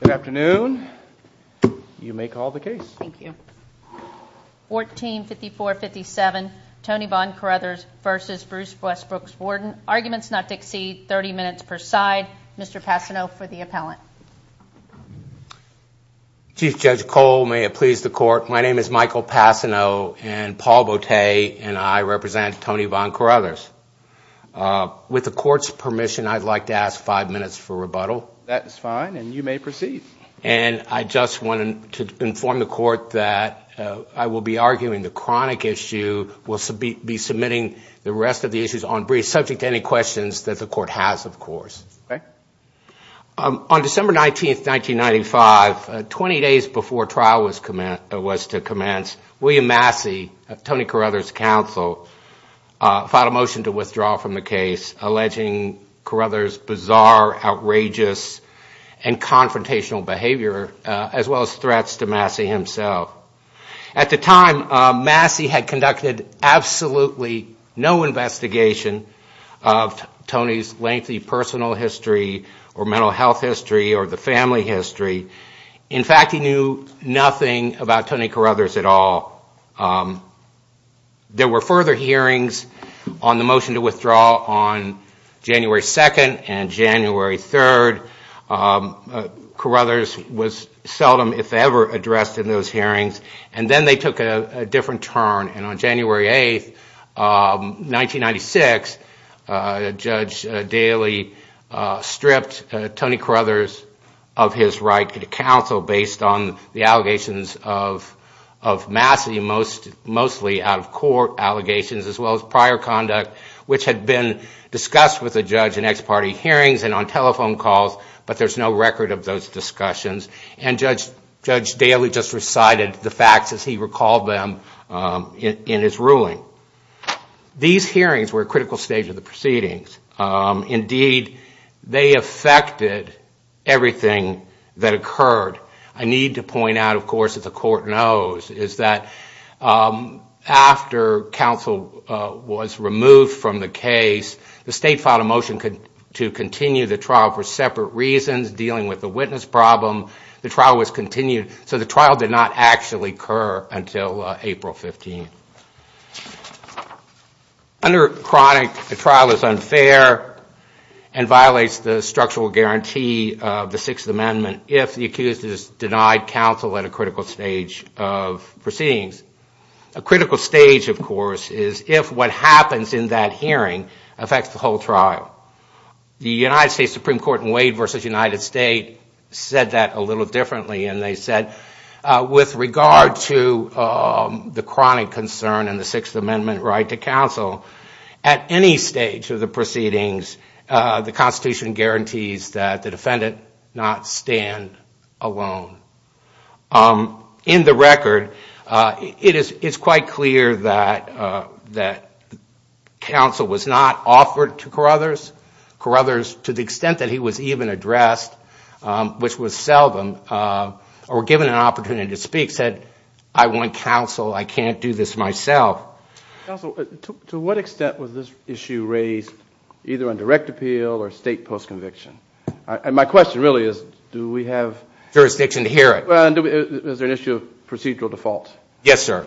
Good afternoon. You may call the case. Thank you. 1454-57 Tony Bon Corruthers v. Bruce Westbrooks Warden. Arguments not to exceed 30 minutes per side. Mr. Passano for the appellant. Chief Judge Cole, may it please the court. My name is Michael Passano and Paul Bote and I represent Tony Bon Corruthers. With the court's permission, I'd like to ask five minutes for rebuttal. That is fine and you may proceed. And I just wanted to inform the court that I will be arguing the chronic issue. We'll be submitting the rest of the issues on brief subject to any questions that the court has, of course. On December 19th, 1995, 20 days before trial was to commence, William Massey, Tony Corruthers' counsel, filed a motion to withdraw from the case, alleging Corruthers' bizarre, outrageous and confrontational behavior, as well as threats to Massey himself. At the time, Massey had conducted absolutely no investigation of Tony's lengthy personal history or mental health history or the family history. In fact, he knew nothing about Tony Corruthers at all. There were further hearings on the motion to withdraw on January 2nd and January 3rd. Corruthers was seldom, if ever, addressed in those hearings. And then they took a different turn. And on January 8th, 1996, Judge Daly stripped Tony Corruthers of his right to counsel based on the allegations of Massey, mostly out-of-court allegations as well as prior conduct, which had been discussed with the judge in ex-party hearings and on telephone calls, but there's no record of those discussions. And Judge Daly just recited the facts as he recalled them in his ruling. These hearings were a critical stage of the proceedings. Indeed, they affected everything that occurred. I need to point out, of course, that the court knows, is that after counsel was removed from the case, the state filed a motion to continue the trial for separate reasons, dealing with the witness problem. The trial was continued, so the trial did not actually occur until April 15th. Under chronic, the trial is unfair and violates the structural guarantee of the Sixth Amendment if the accused is denied counsel at a critical stage of proceedings. A critical stage, of course, is if what happens in that hearing affects the whole trial. The United States Supreme Court in Wade v. United States said that a little differently, and they said with regard to the chronic concern and the Sixth Amendment right to counsel, at any stage of the proceedings, the Constitution guarantees that the defendant not stand alone. In the record, it is quite clear that counsel was not offered to Carruthers. Carruthers, to the extent that he was even addressed, which was seldom, or given an opportunity to speak, said, I want counsel. I can't do this myself. Counsel, to what extent was this issue raised either on direct appeal or state post-conviction? My question really is, do we have... Jurisdiction to hear it. Is there an issue of procedural default? Yes, sir.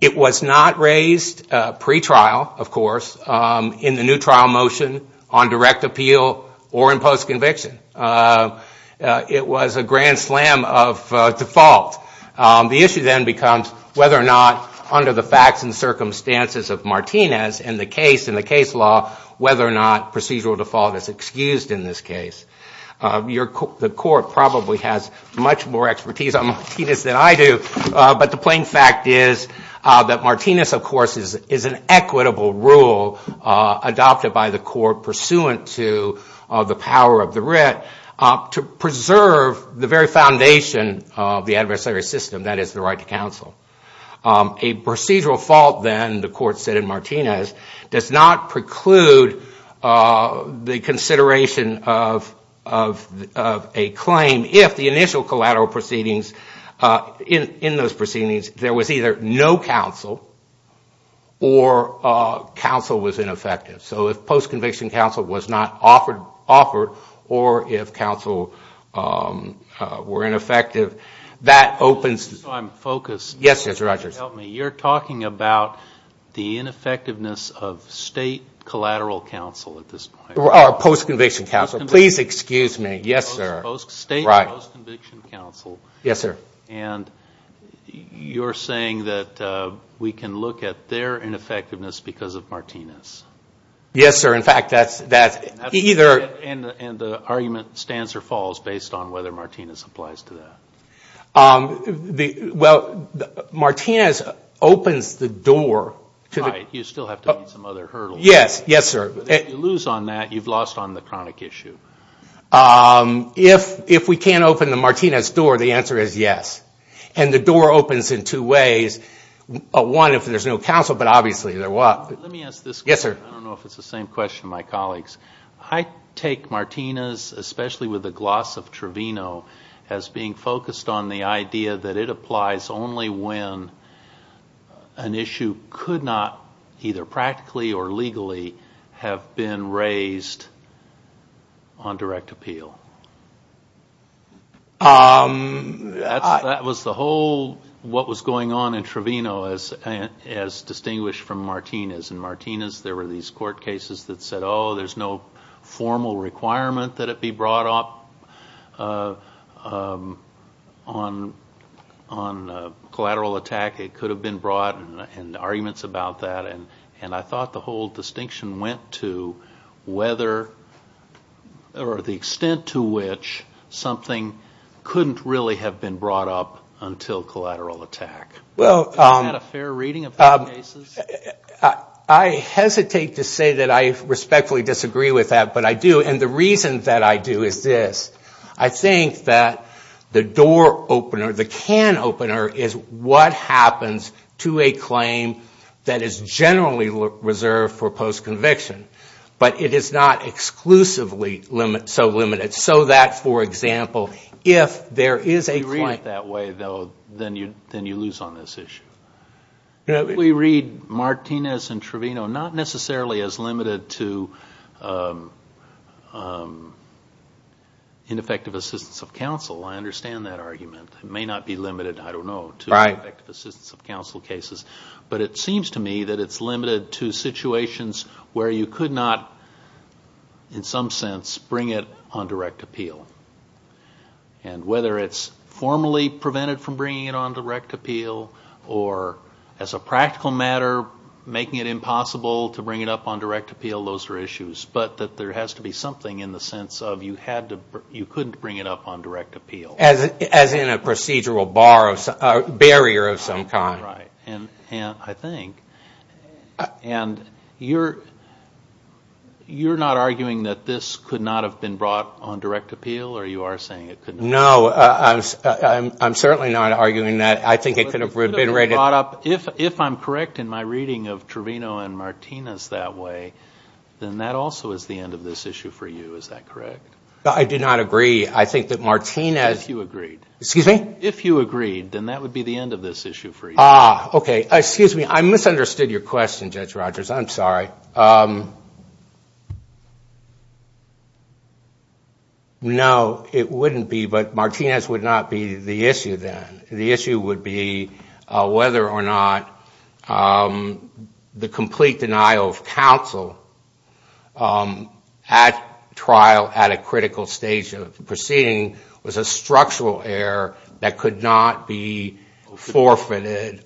It was not raised pre-trial, of course, in the new trial motion on direct appeal or in post-conviction. It was a grand slam of default. The issue then becomes whether or not, under the facts and circumstances of Martinez and the case law, whether or not procedural default is excused in this case. The court probably has much more expertise on Martinez than I do, but the plain fact is that Martinez, of course, is an equitable rule adopted by the court pursuant to the power of the writ to preserve the very foundation of the adversary system, that is, the right to counsel. A procedural fault, then, the court said in Martinez, does not preclude the consideration of a claim if the initial collateral proceedings, in those proceedings, there was either no counsel or counsel was ineffective. So if post-conviction counsel was not offered or if counsel were ineffective, that opens... Just so I'm focused. Yes, sir. Help me. You're talking about the ineffectiveness of state collateral counsel at this point. Or post-conviction counsel. Please excuse me. Yes, sir. State post-conviction counsel. Yes, sir. And you're saying that we can look at their ineffectiveness because of Martinez. Yes, sir. In fact, that's either... And the argument stands or falls based on whether Martinez applies to that. Well, Martinez opens the door... Right. You still have to meet some other hurdles. Yes. Yes, sir. If you lose on that, you've lost on the chronic issue. If we can't open the Martinez door, the answer is yes. And the door opens in two ways. One, if there's no counsel, but obviously there was. Let me ask this. Yes, sir. I don't know if it's the same question, my colleagues. I take Martinez, especially with the gloss of Trevino, as being focused on the idea that it applies only when an issue could not, either practically or legally, have been raised on direct appeal. That was the whole what was going on in Trevino as distinguished from Martinez. There were these court cases that said, oh, there's no formal requirement that it be brought up on collateral attack. It could have been brought, and arguments about that. And I thought the whole distinction went to whether or the extent to which something couldn't really have been brought up until collateral attack. Isn't that a fair reading of those cases? I hesitate to say that I respectfully disagree with that, but I do. And the reason that I do is this. I think that the door opener, the can opener, is what happens to a claim that is generally reserved for post-conviction. But it is not exclusively so limited. So that, for example, if there is a claim. If you read it that way, though, then you lose on this issue. We read Martinez and Trevino not necessarily as limited to ineffective assistance of counsel. I understand that argument. It may not be limited, I don't know, to effective assistance of counsel cases. But it seems to me that it's limited to situations where you could not, in some sense, bring it on direct appeal. And whether it's formally prevented from bringing it on direct appeal or, as a practical matter, making it impossible to bring it up on direct appeal, those are issues. But that there has to be something in the sense of you couldn't bring it up on direct appeal. As in a procedural barrier of some kind. Right. And I think. And you're not arguing that this could not have been brought on direct appeal, or you are saying it could not? No, I'm certainly not arguing that. I think it could have been rated. If I'm correct in my reading of Trevino and Martinez that way, then that also is the end of this issue for you. Is that correct? I do not agree. I think that Martinez. If you agreed. Excuse me? If you agreed, then that would be the end of this issue for you. Ah, okay. Excuse me. I misunderstood your question, Judge Rogers. I'm sorry. No, it wouldn't be. But Martinez would not be the issue then. The issue would be whether or not the complete denial of counsel at trial, at a critical stage of the proceeding, was a structural error that could not be forfeited.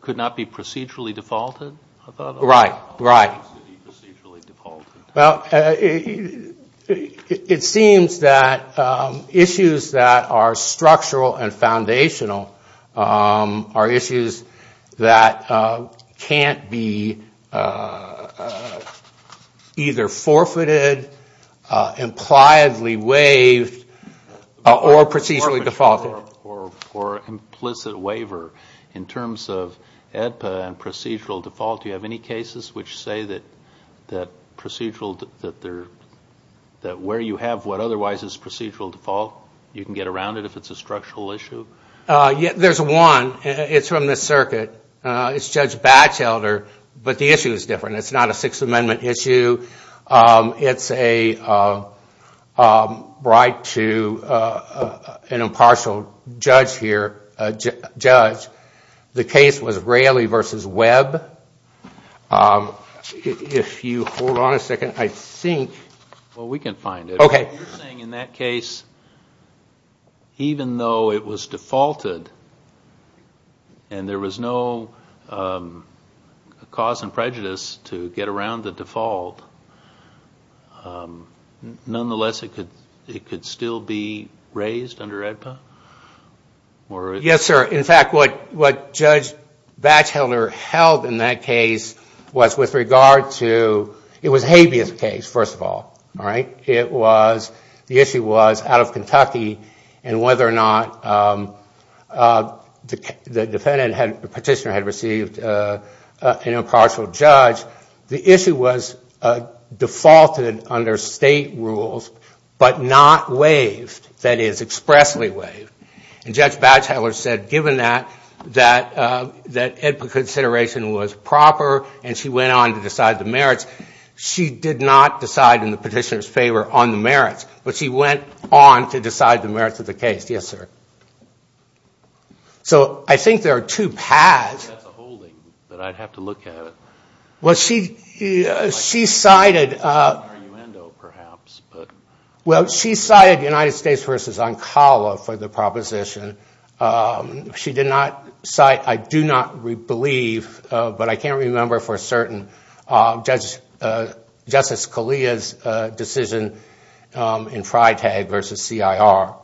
Could not be procedurally defaulted, I thought. Right, right. Procedurally defaulted. Well, it seems that issues that are structural and foundational are issues that can't be either forfeited, impliedly waived, or procedurally defaulted. Or implicit waiver. In terms of AEDPA and procedural default, do you have any cases which say that procedural, that where you have what otherwise is procedural default, you can get around it if it's a structural issue? There's one. It's from the circuit. It's Judge Batchelder, but the issue is different. It's not a Sixth Amendment issue. It's a right to an impartial judge here. The case was Raley v. Webb. If you hold on a second, I think. Well, we can find it. You're saying in that case, even though it was defaulted and there was no cause and prejudice to get around the default, nonetheless it could still be raised under AEDPA? Yes, sir. In fact, what Judge Batchelder held in that case was with regard to, it was a habeas case, first of all. The issue was out of Kentucky and whether or not the petitioner had received an impartial judge. The issue was defaulted under state rules but not waived, that is, expressly waived. Judge Batchelder said, given that AEDPA consideration was proper and she went on to decide the merits, she did not decide in the petitioner's favor on the merits, but she went on to decide the merits of the case. Yes, sir. I think there are two paths. That's a holding, but I'd have to look at it. Well, she cited United States v. Oncala for the proposition. She did not cite, I do not believe, but I can't remember for certain, Justice Scalia's decision in FRITAG v. CIR.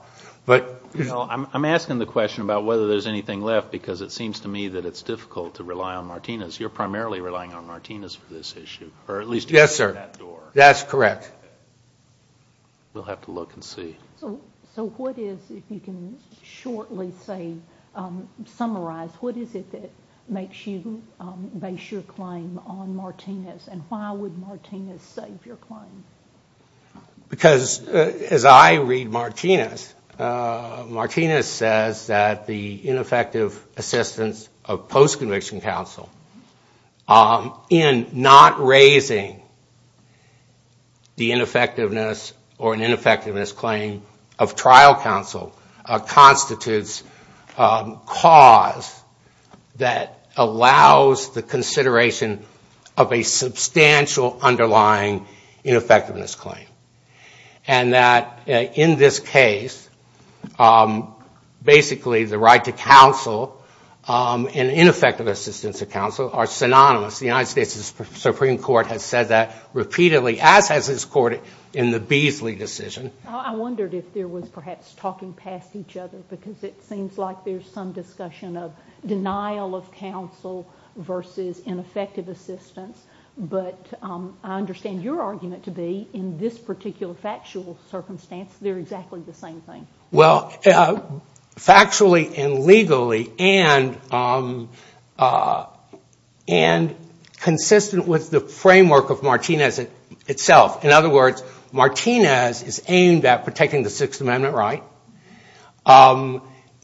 I'm asking the question about whether there's anything left because it seems to me that it's difficult to rely on Martinez. You're primarily relying on Martinez for this issue. Yes, sir. That's correct. We'll have to look and see. So what is, if you can shortly summarize, what is it that makes you base your claim on Martinez and why would Martinez save your claim? Because as I read Martinez, Martinez says that the ineffective assistance of post-conviction counsel in not raising the ineffectiveness or an ineffectiveness claim of trial counsel constitutes cause that allows the consideration of a substantial underlying ineffectiveness claim. And that in this case, basically the right to counsel and ineffective assistance of counsel are synonymous. The United States Supreme Court has said that repeatedly, as has its court in the Beasley decision. I wondered if there was perhaps talking past each other because it seems like there's some discussion of denial of counsel versus ineffective assistance. But I understand your argument to be in this particular factual circumstance, they're exactly the same thing. Well, factually and legally and consistent with the framework of Martinez itself. In other words, Martinez is aimed at protecting the Sixth Amendment right.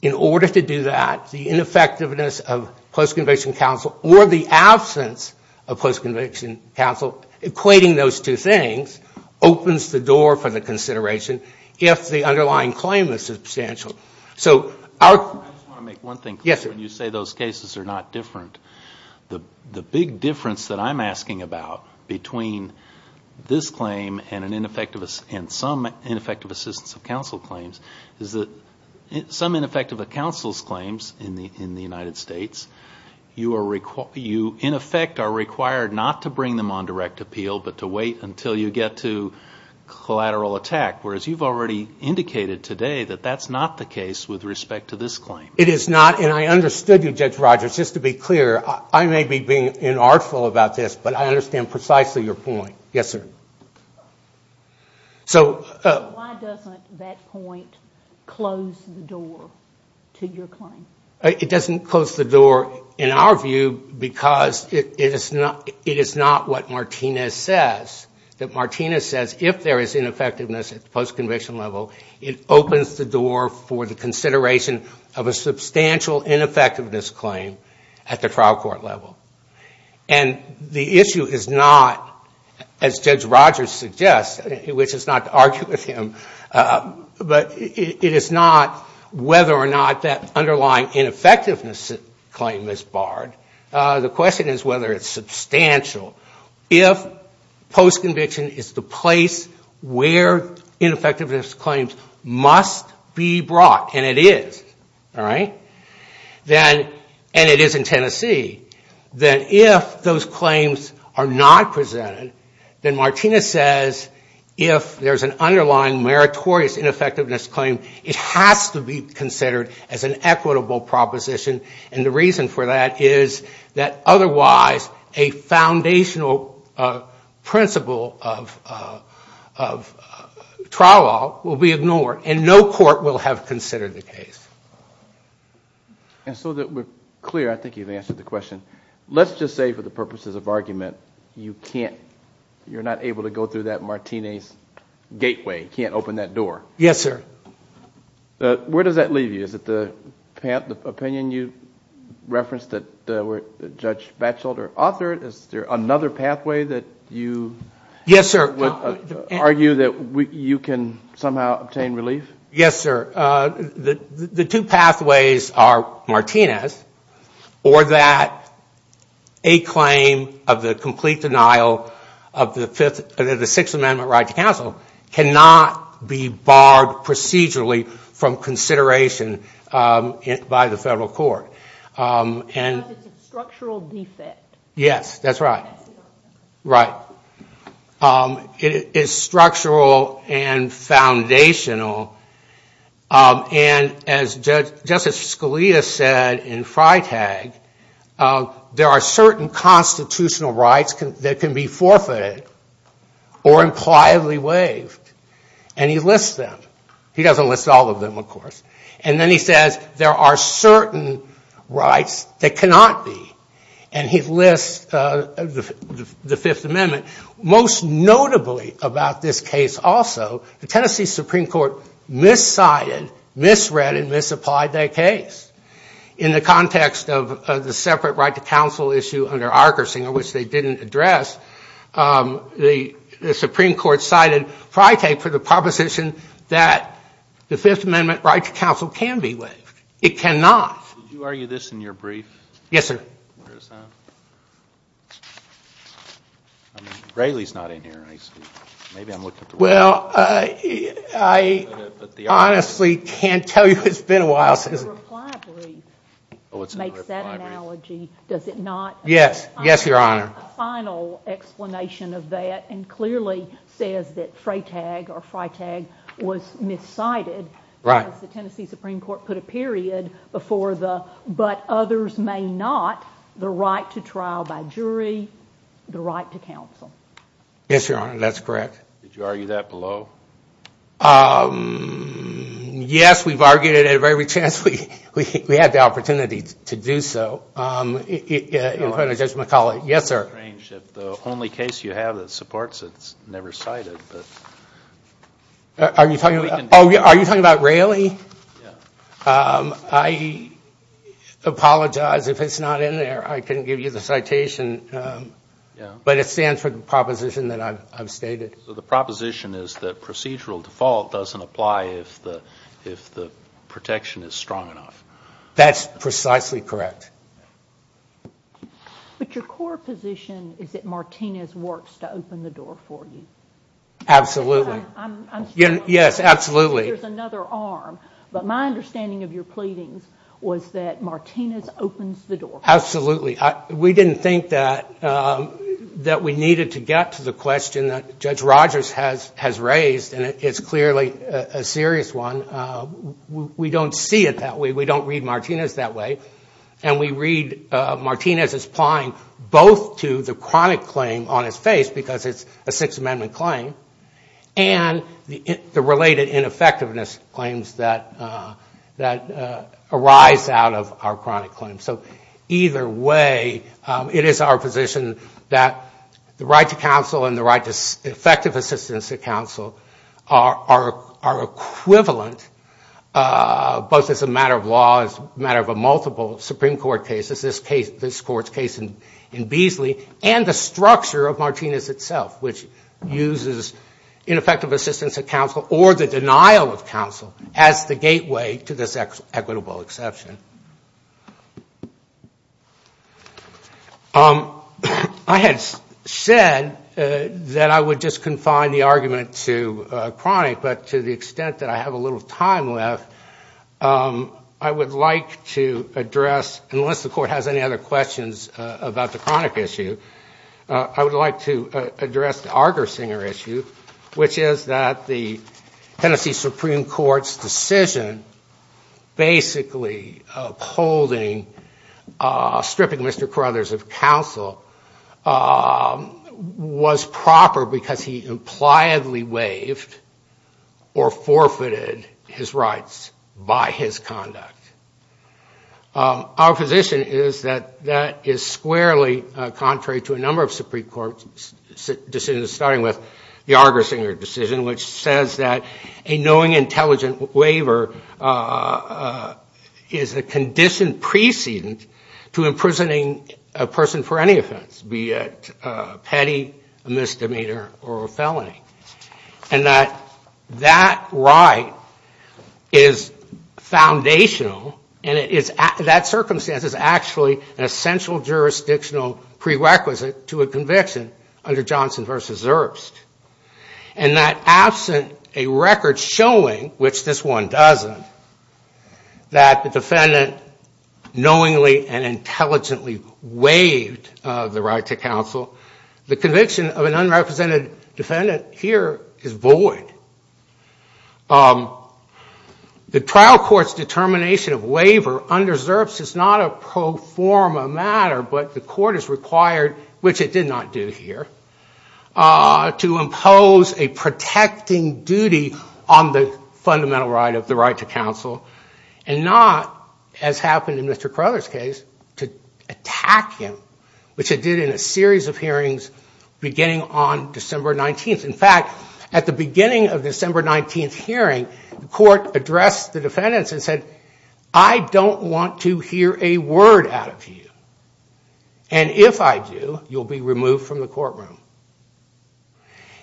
In order to do that, the ineffectiveness of post-conviction counsel or the absence of post-conviction counsel, equating those two things, opens the door for the consideration if the underlying claim is substantial. So our... I just want to make one thing clear. Yes, sir. When you say those cases are not different, the big difference that I'm asking about between this claim and some ineffective assistance of counsel claims is that some ineffective counsel's claims in the United States, you in effect are required not to bring them on direct appeal but to wait until you get to collateral attack, whereas you've already indicated today that that's not the case with respect to this claim. It is not, and I understood you, Judge Rogers. Just to be clear, I may be being inartful about this, but I understand precisely your point. Yes, sir. So... Why doesn't that point close the door to your claim? It doesn't close the door in our view because it is not what Martinez says, that Martinez says if there is ineffectiveness at the post-conviction level, it opens the door for the consideration of a substantial ineffectiveness claim at the trial court level. And the issue is not, as Judge Rogers suggests, which is not to argue with him, but it is not whether or not that underlying ineffectiveness claim is barred. The question is whether it's substantial. If post-conviction is the place where ineffectiveness claims must be brought, and it is, all right, and it is in Tennessee, then if those claims are not presented, then Martinez says if there's an underlying meritorious ineffectiveness claim, it has to be considered as an equitable proposition. And the reason for that is that otherwise a foundational principle of trial law will be ignored and no court will have considered the case. And so that we're clear, I think you've answered the question, let's just say for the purposes of argument, you can't, you're not able to go through that Martinez gateway, can't open that door. Yes, sir. Where does that leave you? Is it the opinion you referenced that Judge Batchelder authored? Is there another pathway that you would argue that you can somehow obtain relief? Yes, sir. The two pathways are Martinez or that a claim of the complete denial of the Sixth Amendment right to counsel cannot be barred procedurally from consideration by the federal court. Because it's a structural defect. Yes, that's right. Right. It is structural and foundational. And as Justice Scalia said in Freitag, there are certain constitutional rights that can be forfeited or impliedly waived. And he lists them. He doesn't list all of them, of course. And then he says there are certain rights that cannot be. And he lists the Fifth Amendment. Most notably about this case also, the Tennessee Supreme Court miscited, misread, and misapplied that case. In the context of the separate right to counsel issue under Arkersinger, which they didn't address, the Supreme Court cited Freitag for the proposition that the Fifth Amendment right to counsel can be waived. It cannot. Did you argue this in your brief? Yes, sir. Where is that? Railey's not in here. Maybe I'm looking through it. Well, I honestly can't tell you. It's been a while since. The reply brief makes that analogy. Does it not? Yes. Yes, Your Honor. A final explanation of that, and clearly says that Freitag or Freitag was miscited. Right. Because the Tennessee Supreme Court put a period before the, but others may not, the right to trial by jury, the right to counsel. Yes, Your Honor. That's correct. Did you argue that below? Yes. We've argued it at every chance we had the opportunity to do so in front of Judge McCullough. Yes, sir. It's strange that the only case you have that supports it is never cited. Are you talking about Railey? Yes. I apologize if it's not in there. I couldn't give you the citation, but it stands for the proposition that I've stated. So the proposition is that procedural default doesn't apply if the protection is strong enough. That's precisely correct. But your core position is that Martinez works to open the door for you. Absolutely. Yes, absolutely. There's another arm, but my understanding of your pleadings was that Martinez opens the door for you. Absolutely. We didn't think that we needed to get to the question that Judge McCullough raised. It's a serious one. We don't see it that way. We don't read Martinez that way. And we read Martinez as applying both to the chronic claim on his face, because it's a Sixth Amendment claim, and the related ineffectiveness claims that arise out of our chronic claims. So either way, it is our position that the right to counsel and the right to effective assistance to counsel are equivalent, both as a matter of law, as a matter of a multiple Supreme Court case, as this Court's case in Beasley, and the structure of Martinez itself, which uses ineffective assistance of counsel or the denial of counsel as the gateway to this equitable exception. I had said that I would just confine the argument to chronic, but to the extent that I have a little time left, I would like to address, unless the Court has any other questions about the chronic issue, I would like to address the Argersinger issue, which is that the Tennessee Supreme Court's decision basically upholding, stripping Mr. Carruthers of counsel, was proper because he impliedly waived or forfeited his rights by his conduct. Our position is that that is squarely contrary to a number of Supreme Court decisions, starting with the Argersinger decision, which is a condition precedent to imprisoning a person for any offense, be it petty, a misdemeanor, or a felony, and that that right is foundational, and that circumstance is actually an essential jurisdictional prerequisite to a conviction under Johnson v. Erbst, and that absent a record showing, which this one doesn't, that the defendant knowingly and intelligently waived the right to counsel, the conviction of an unrepresented defendant here is void. The trial court's determination of waiver under Erbst is not a pro forma matter, but the court is required, which it did not do here, to impose a protecting duty on the fundamental right of the right to counsel, and not, as happened in Mr. Carruthers' case, to attack him, which it did in a series of hearings beginning on December 19th. In fact, at the beginning of December 19th hearing, the court addressed the defendants and said, I don't want to hear a word out of you, and if I do, you'll be removed from the courtroom.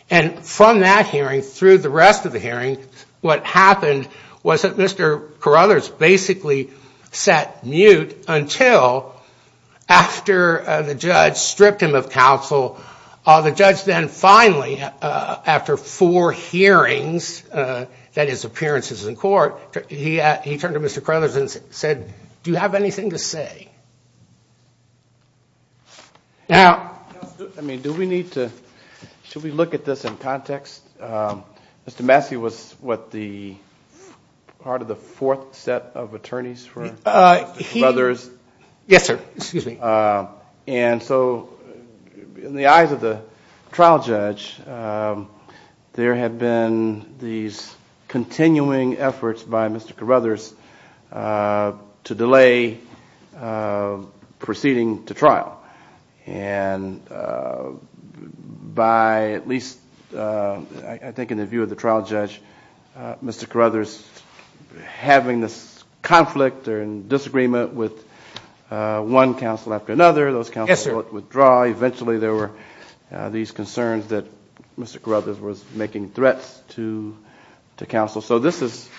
And from that hearing through the rest of the hearing, what happened was that Mr. Carruthers basically sat mute until after the judge stripped him of counsel, the judge then finally after four hearings, that is appearances in court, he turned to Mr. Carruthers and said, do you have anything to say? Now, I mean, do we need to, should we look at this in context? Mr. Massey was what the, part of the fourth set of attorneys for Carruthers. Yes, sir. Excuse me. And so in the eyes of the trial judge, there had been these continuing efforts by Mr. Carruthers to delay proceeding to trial. And by at least I think in the view of the trial judge, Mr. Carruthers having this conflict or in disagreement with one counsel after another, those counsels would withdraw. Eventually there were these concerns that Mr. Carruthers was making threats to counsel. So this is,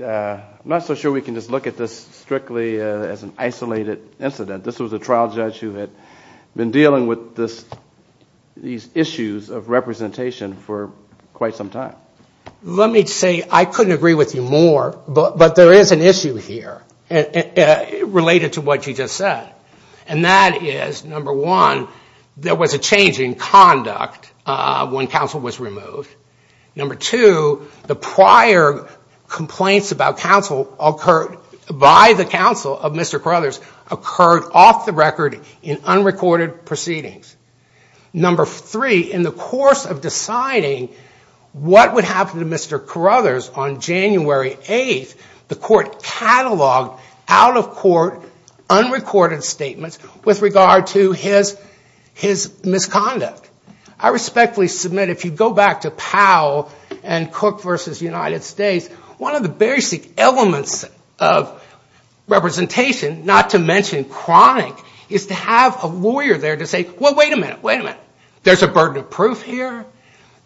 I'm not so sure we can just look at this strictly as an isolated incident. This was a trial judge who had been dealing with this, these issues of representation for quite some time. Let me say, I couldn't agree with you more, but there is an issue here related to what you just said. And that is number one, there was a change in conduct when counsel was removed. Number two, the prior complaints about counsel by the counsel of Mr. Carruthers occurred off the record in unrecorded proceedings. Number three, in the course of deciding what would happen to Mr. Carruthers on January 8th, the court cataloged out of court, unrecorded statements with regard to his misconduct. I respectfully submit, if you go back to Powell and Cook versus United States, one of the basic elements of representation, not to mention chronic, is to have a lawyer there to say, well, wait a minute, wait a minute. There's a burden of proof here.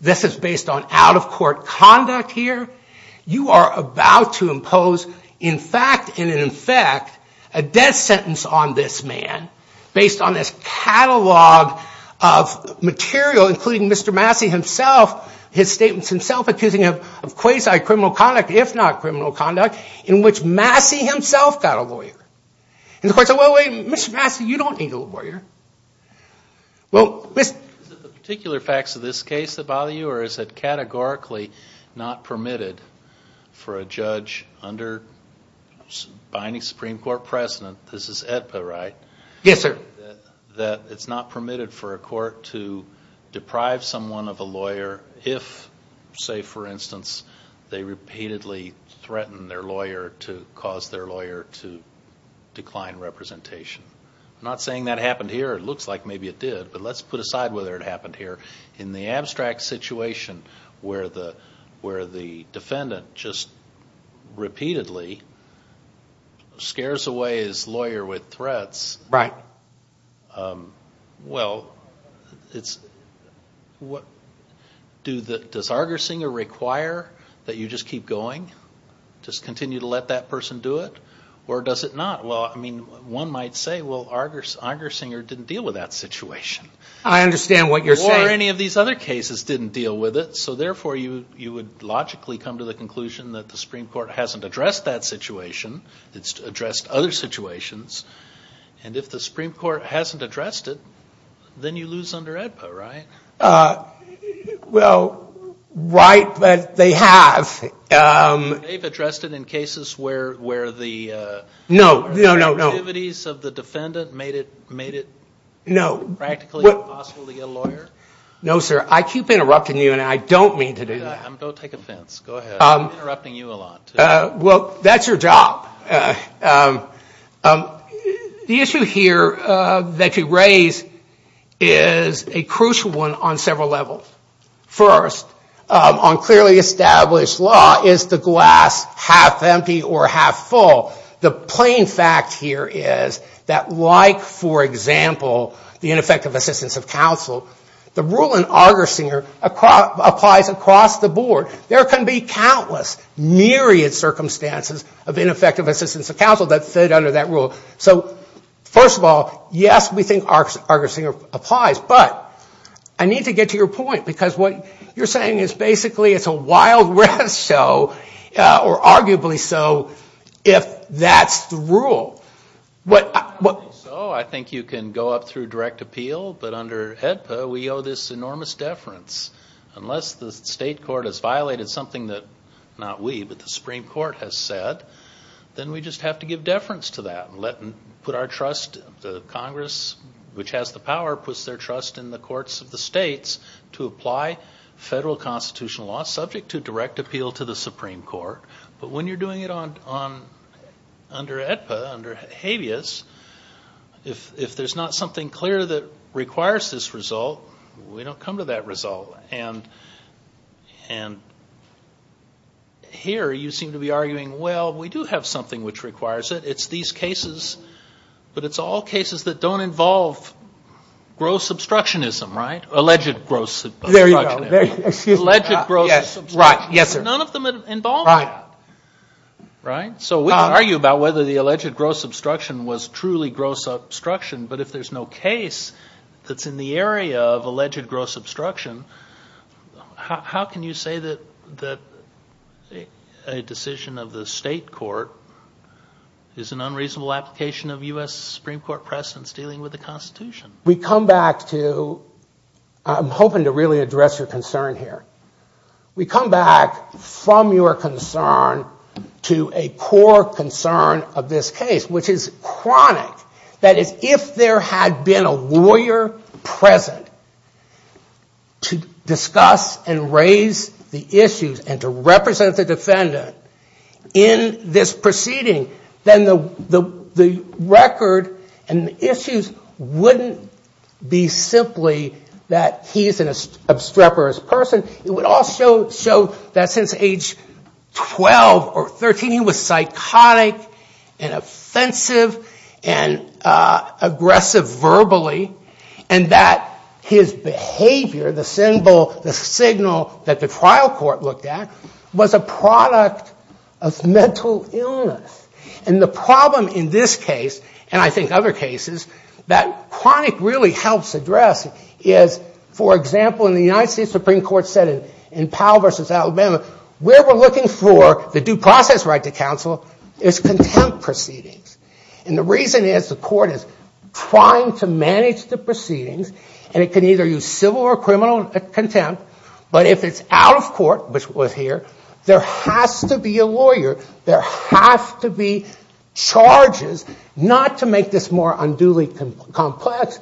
This is based on out of court conduct here. You are about to impose, in fact, and in effect a death sentence on this man based on this catalog of statements himself, his statements himself, accusing him of quasi criminal conduct, if not criminal conduct, in which Massey himself got a lawyer. And the court said, well, wait, Mr. Massey, you don't need a lawyer. Is it the particular facts of this case that bother you, or is it categorically not permitted for a judge under binding Supreme Court precedent, this is AEDPA, right? Yes, sir. That it's not permitted for a court to deprive someone of a lawyer if, say for instance, they repeatedly threaten their lawyer to cause their lawyer to decline representation. I'm not saying that happened here. It looks like maybe it did, but let's put aside whether it happened here. In the abstract situation where the defendant just repeatedly scares away his lawyer with threats. Right. Well, does Argersinger require that you just keep going, just continue to let that person do it, or does it not? Well, I mean, one might say, well, Argersinger didn't deal with that situation. I understand what you're saying. Or any of these other cases didn't deal with it, so therefore you would logically come to the conclusion that the Supreme Court hasn't addressed that situation. It's addressed other situations. And if the Supreme Court hasn't addressed it, then you lose under AEDPA, right? Well, right. But they have. They've addressed it in cases where the activities of the defendant made it practically impossible to get a lawyer? No, sir. I keep interrupting you, and I don't mean to do that. Don't take offense. Go ahead. I'm interrupting you a lot. Well, that's your job. The issue here that you raise is a crucial one on several levels. First, on clearly established law, is the glass half empty or half full? The plain fact here is that, like, for example, the ineffective assistance of counsel, the rule in Argersinger applies across the board. There can be countless, myriad circumstances of ineffective assistance of counsel that fit under that rule. So, first of all, yes, we think Argersinger applies. But I need to get to your point, because what you're saying is basically it's a wild risk, or arguably so, if that's the rule. I think you can go up through direct appeal, but under AEDPA, we owe this enormous deference. Unless the state court has violated something that, not we, but the Supreme Court has said, then we just have to give deference to that and put our trust, the Congress, which has the power, puts their trust in the courts of the states to apply federal constitutional law subject to direct appeal to the Supreme Court. But when you're doing it under AEDPA, under habeas, if there's not something clear that requires this result, we don't come to that result. And here you seem to be arguing, well, we do have something which requires it. It's these cases, but it's all cases that don't involve gross obstructionism, right? Alleged gross obstructionism. There you go. Excuse me. Alleged gross obstructionism. None of them involve that. Right. Right? So we can argue about whether the alleged gross obstruction was truly gross obstruction, but if there's no case that's in the area of alleged gross obstruction, how can you say that a decision of the state court is an unreasonable application of U.S. Supreme Court precedents dealing with the Constitution? We come back to, I'm hoping to really address your concern here. We come back from your concern to a core concern of this case, which is chronic. That is, if there had been a lawyer present to discuss and raise the issues and to represent the defendant in this proceeding, then the record and the issues wouldn't be simply that he's an obstreperous person. It would also show that since age 12 or 13 he was psychotic and offensive and aggressive verbally, and that his behavior, the symbol, the signal that the trial court looked at, was a product of mental illness. And the problem in this case, and I think other cases, that chronic really helps address is, for example, in the United States Supreme Court said in Powell v. Alabama, where we're looking for the due process right to counsel is contempt proceedings. And the reason is the court is trying to manage the proceedings, and it can either use civil or criminal contempt. But if it's out of court, which was here, there has to be a lawyer. There have to be charges, not to make this more unduly complex,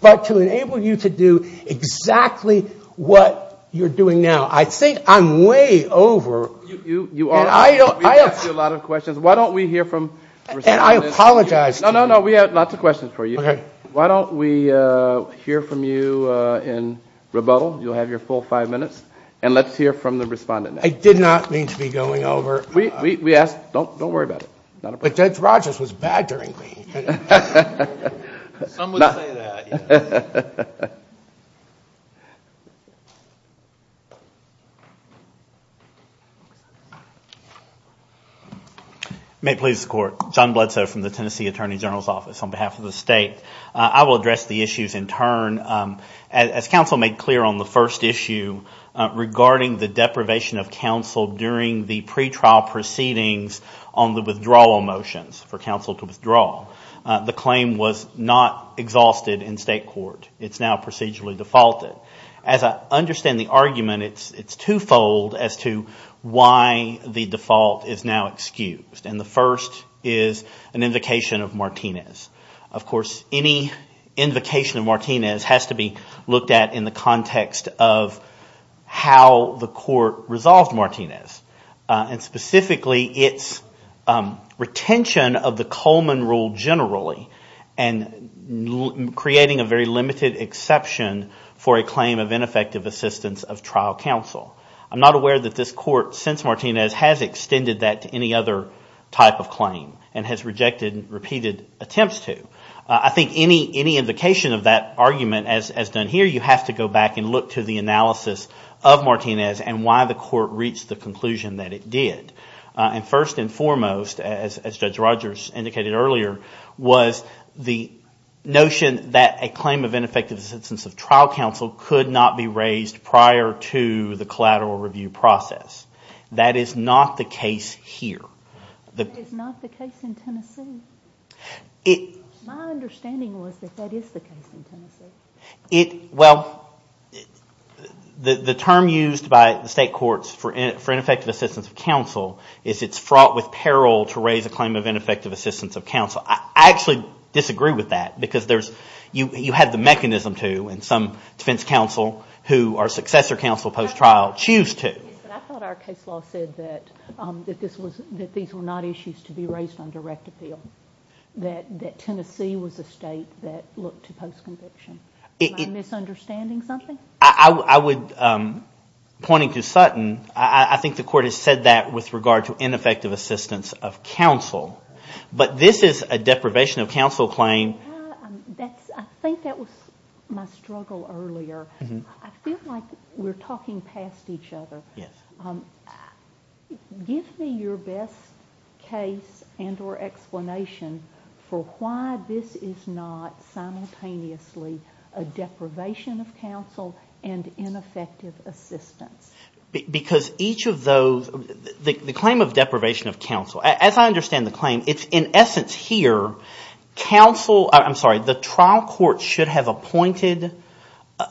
but to enable you to do exactly what you're doing now. Now, I think I'm way over. I asked you a lot of questions. Why don't we hear from the respondent? And I apologize. No, no, no. We have lots of questions for you. Why don't we hear from you in rebuttal? You'll have your full five minutes. And let's hear from the respondent. I did not mean to be going over. We asked. Don't worry about it. Judge Rogers was bad during me. Some would say that. May it please the court. John Bledsoe from the Tennessee Attorney General's Office. On behalf of the state, I will address the issues in turn. As counsel made clear on the first issue regarding the deprivation of counsel during the pretrial proceedings on the withdrawal motions, for counsel to withdraw, the claim was not exhausted in state court. It's now procedurally defaulted. As I understand the argument, it's twofold as to why the default is now excused. And the first is an invocation of Martinez. Of course, any invocation of Martinez has to be looked at in the context of how the court resolved Martinez. And specifically, its retention of the Coleman Rule generally and creating a very limited exception for a claim of ineffective assistance of trial counsel. I'm not aware that this court, since Martinez, has extended that to any other type of claim and has rejected repeated attempts to. I think any invocation of that argument, as done here, you have to go back and look to the analysis of Martinez and why the court reached the conclusion that it did. And first and foremost, as Judge Rogers indicated earlier, was the notion that a claim of ineffective assistance of trial counsel could not be raised prior to the collateral review process. That is not the case here. That is not the case in Tennessee. My understanding was that that is the case in Tennessee. Well, the term used by the state courts for ineffective assistance of counsel is it's fraught with peril to raise a claim of ineffective assistance of counsel. I actually disagree with that because you have the mechanism to and some defense counsel who are successor counsel post-trial choose to. I thought our case law said that these were not issues to be raised on direct appeal, that Tennessee was a state that looked to post-conviction. Am I misunderstanding something? I would, pointing to Sutton, I think the court has said that with regard to ineffective assistance of counsel. But this is a deprivation of counsel claim. I think that was my struggle earlier. I feel like we're talking past each other. Give me your best case and or explanation for why this is not simultaneously a deprivation of counsel and ineffective assistance. Because each of those – the claim of deprivation of counsel, as I understand the claim, it's in essence here counsel – I'm sorry, the trial court should have appointed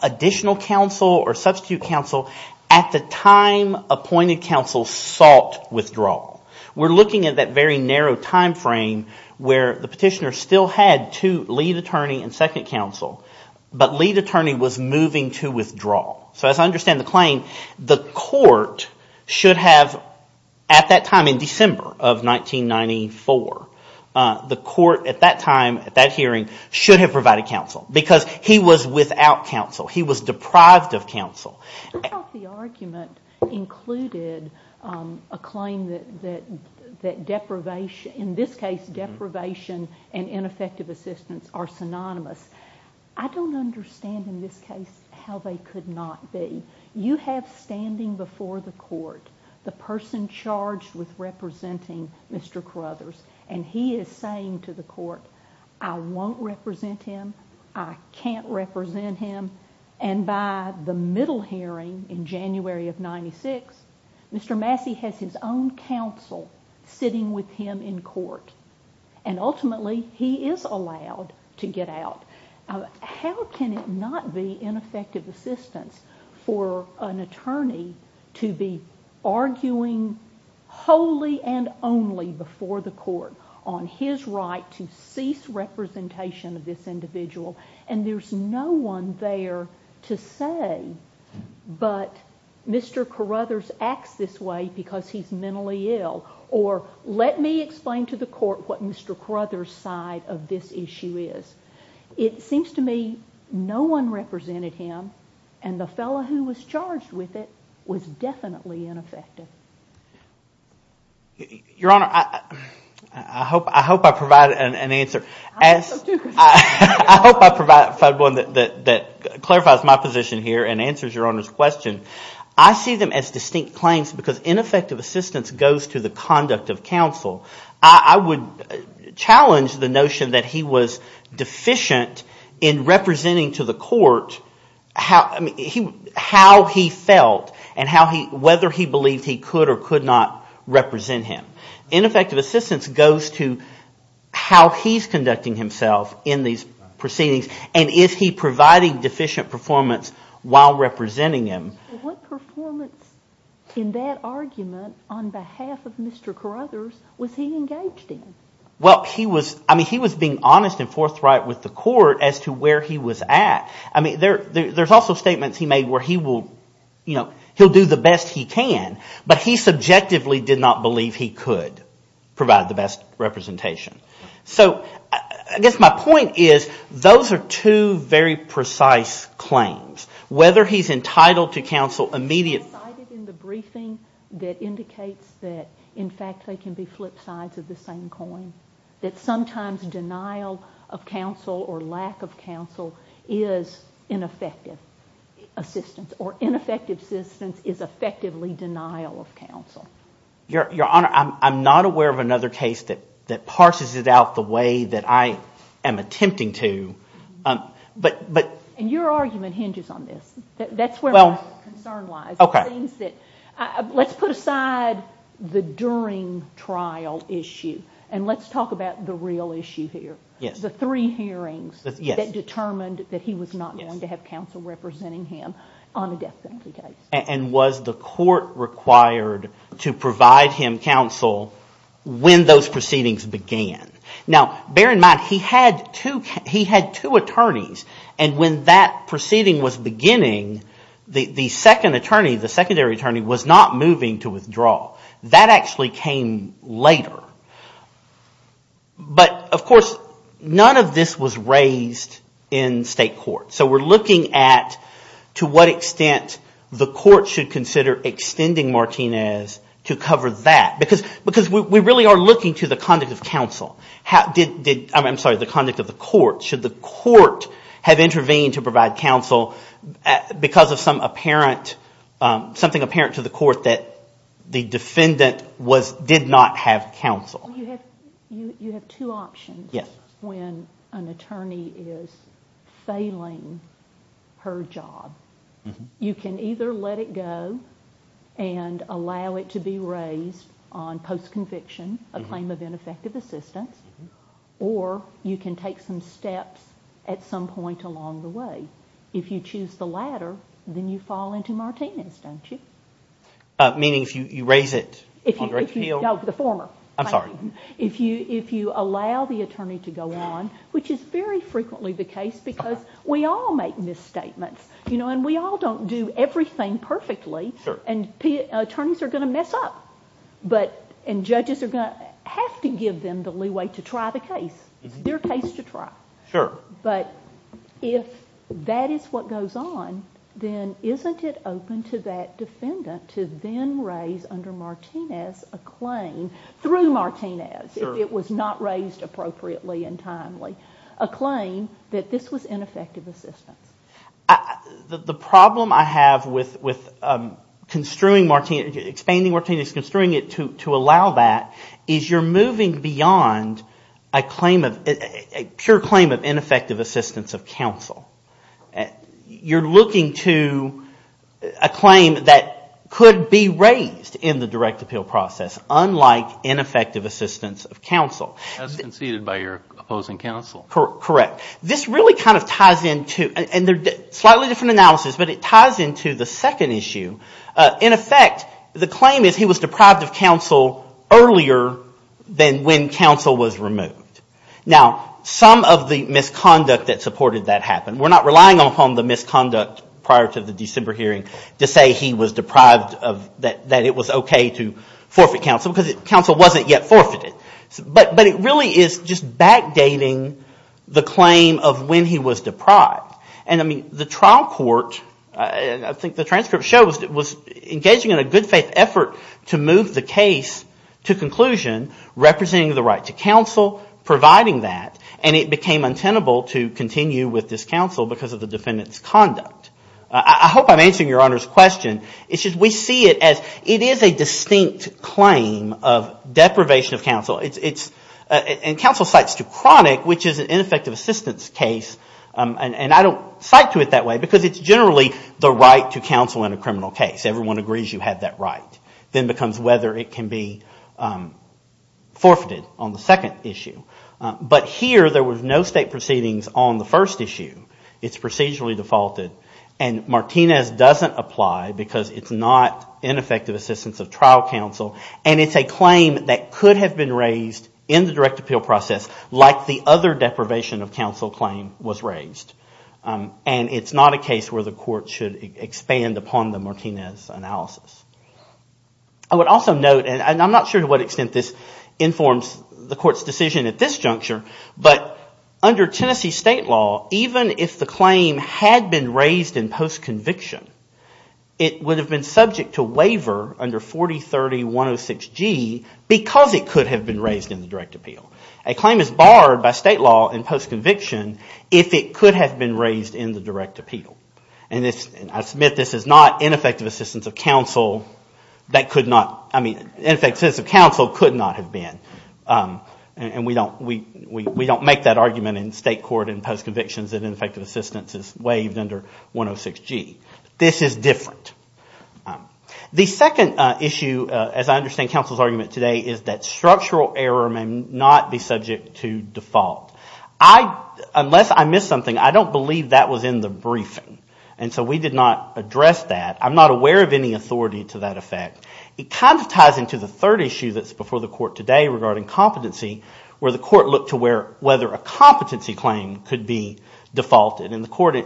additional counsel or substitute counsel. At the time appointed counsel sought withdrawal. We're looking at that very narrow timeframe where the petitioner still had two lead attorney and second counsel. So as I understand the claim, the court should have at that time in December of 1994, the court at that time, at that hearing, should have provided counsel because he was without counsel. He was deprived of counsel. I thought the argument included a claim that deprivation – in this case deprivation and ineffective assistance are synonymous. I don't understand in this case how they could not be. You have standing before the court the person charged with representing Mr. Crothers. And he is saying to the court, I won't represent him. I can't represent him. And by the middle hearing in January of 1996, Mr. Massey has his own counsel sitting with him in court. And ultimately he is allowed to get out. How can it not be ineffective assistance for an attorney to be arguing wholly and only before the court on his right to cease representation of this individual? And there's no one there to say, but Mr. Crothers acts this way because he's mentally ill. Or let me explain to the court what Mr. Crothers' side of this issue is. It seems to me no one represented him, and the fellow who was charged with it was definitely ineffective. Your Honor, I hope I provided an answer. I hope I provided one that clarifies my position here and answers Your Honor's question. I see them as distinct claims because ineffective assistance goes to the conduct of counsel. I would challenge the notion that he was deficient in representing to the court how he felt and whether he believed he could or could not represent him. Ineffective assistance goes to how he's conducting himself in these proceedings. And is he providing deficient performance while representing him? What performance in that argument on behalf of Mr. Crothers was he engaged in? Well, he was – I mean he was being honest and forthright with the court as to where he was at. I mean there's also statements he made where he will – he'll do the best he can. But he subjectively did not believe he could provide the best representation. So I guess my point is those are two very precise claims. Whether he's entitled to counsel immediately – I cited in the briefing that indicates that, in fact, they can be flip sides of the same coin, that sometimes denial of counsel or lack of counsel is ineffective assistance. Or ineffective assistance is effectively denial of counsel. Your Honor, I'm not aware of another case that parses it out the way that I am attempting to. But – And your argument hinges on this. That's where my concern lies. It seems that – let's put aside the during trial issue and let's talk about the real issue here. The three hearings that determined that he was not going to have counsel representing him on a death penalty case. And was the court required to provide him counsel when those proceedings began? Now, bear in mind he had two attorneys. And when that proceeding was beginning, the second attorney, the secondary attorney, was not moving to withdraw. That actually came later. But, of course, none of this was raised in state court. So we're looking at to what extent the court should consider extending Martinez to cover that. Because we really are looking to the conduct of counsel. I'm sorry, the conduct of the court. Should the court have intervened to provide counsel because of some apparent – something apparent to the court that the defendant did not have counsel? You have two options when an attorney is failing her job. You can either let it go and allow it to be raised on post-conviction, a claim of ineffective assistance, or you can take some steps at some point along the way. If you choose the latter, then you fall into Martinez, don't you? Meaning if you raise it on direct appeal? No, the former. I'm sorry. If you allow the attorney to go on, which is very frequently the case because we all make misstatements. And we all don't do everything perfectly. And attorneys are going to mess up. And judges are going to have to give them the leeway to try the case. It's their case to try. Sure. But if that is what goes on, then isn't it open to that defendant to then raise under Martinez a claim through Martinez if it was not raised appropriately and timely, a claim that this was ineffective assistance? The problem I have with expanding Martinez, construing it to allow that, is you're moving beyond a pure claim of ineffective assistance of counsel. You're looking to a claim that could be raised in the direct appeal process, unlike ineffective assistance of counsel. As conceded by your opposing counsel. Correct. This really kind of ties into, and they're slightly different analysis, but it ties into the second issue. In effect, the claim is he was deprived of counsel earlier than when counsel was removed. Now, some of the misconduct that supported that happened. We're not relying upon the misconduct prior to the December hearing to say he was deprived of, that it was okay to forfeit counsel because counsel wasn't yet forfeited. But it really is just backdating the claim of when he was deprived. And, I mean, the trial court, I think the transcript shows, was engaging in a good faith effort to move the case to conclusion, representing the right to counsel, providing that. And it became untenable to continue with this counsel because of the defendant's conduct. I hope I'm answering your Honor's question. It's just we see it as it is a distinct claim of deprivation of counsel. It's – and counsel cites Tucronic, which is an ineffective assistance case. And I don't cite to it that way because it's generally the right to counsel in a criminal case. Everyone agrees you have that right. Then it becomes whether it can be forfeited on the second issue. But here there was no state proceedings on the first issue. It's procedurally defaulted. And Martinez doesn't apply because it's not ineffective assistance of trial counsel. And it's a claim that could have been raised in the direct appeal process like the other deprivation of counsel claim was raised. And it's not a case where the court should expand upon the Martinez analysis. I would also note, and I'm not sure to what extent this informs the court's decision at this juncture, but under Tennessee state law, even if the claim had been raised in post-conviction, it would have been subject to waiver under 4030-106G because it could have been raised in the direct appeal. A claim is barred by state law in post-conviction if it could have been raised in the direct appeal. And I submit this is not ineffective assistance of counsel that could not, I mean, ineffective assistance of counsel could not have been. And we don't make that argument in state court in post-convictions that ineffective assistance is waived under 106G. This is different. The second issue, as I understand counsel's argument today, is that structural error may not be subject to default. Unless I missed something, I don't believe that was in the briefing. And so we did not address that. I'm not aware of any authority to that effect. It kind of ties into the third issue that's before the court today regarding competency, where the court looked to whether a competency claim could be defaulted. And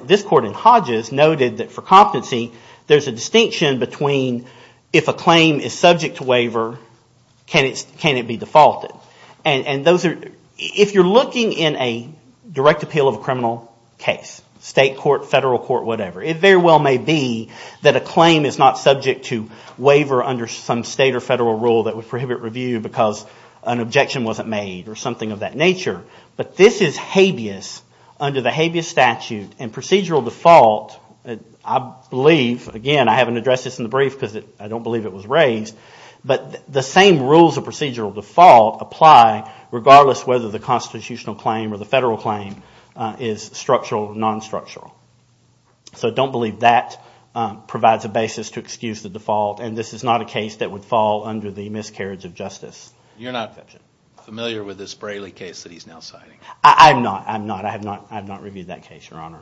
this court in Hodges noted that for competency, there's a distinction between if a claim is subject to waiver, can it be defaulted? If you're looking in a direct appeal of a criminal case, state court, federal court, whatever, it very well may be that a claim is not subject to waiver under some state or federal rule that would prohibit review because an objection wasn't made or something of that nature. But this is habeas under the habeas statute and procedural default. I believe, again, I haven't addressed this in the brief because I don't believe it was raised. But the same rules of procedural default apply regardless whether the constitutional claim or the federal claim is structural or non-structural. So I don't believe that provides a basis to excuse the default. And this is not a case that would fall under the miscarriage of justice. You're not familiar with this Braley case that he's now citing? I'm not. I'm not. I have not reviewed that case, Your Honor.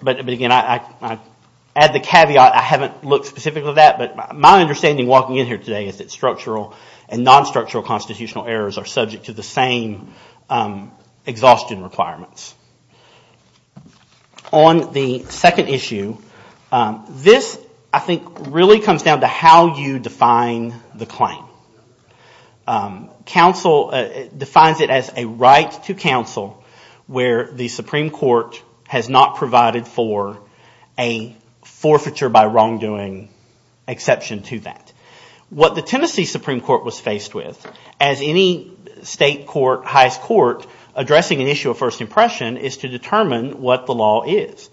But again, I add the caveat, I haven't looked specifically at that. But my understanding walking in here today is that structural and non-structural constitutional errors are subject to the same exhaustion requirements. On the second issue, this I think really comes down to how you define the claim. Counsel defines it as a right to counsel where the Supreme Court has not provided for a forfeiture by wrongdoing exception to that. What the Tennessee Supreme Court was faced with, as any state court, highest court, addressing an issue of first impression, is to determine what the law is.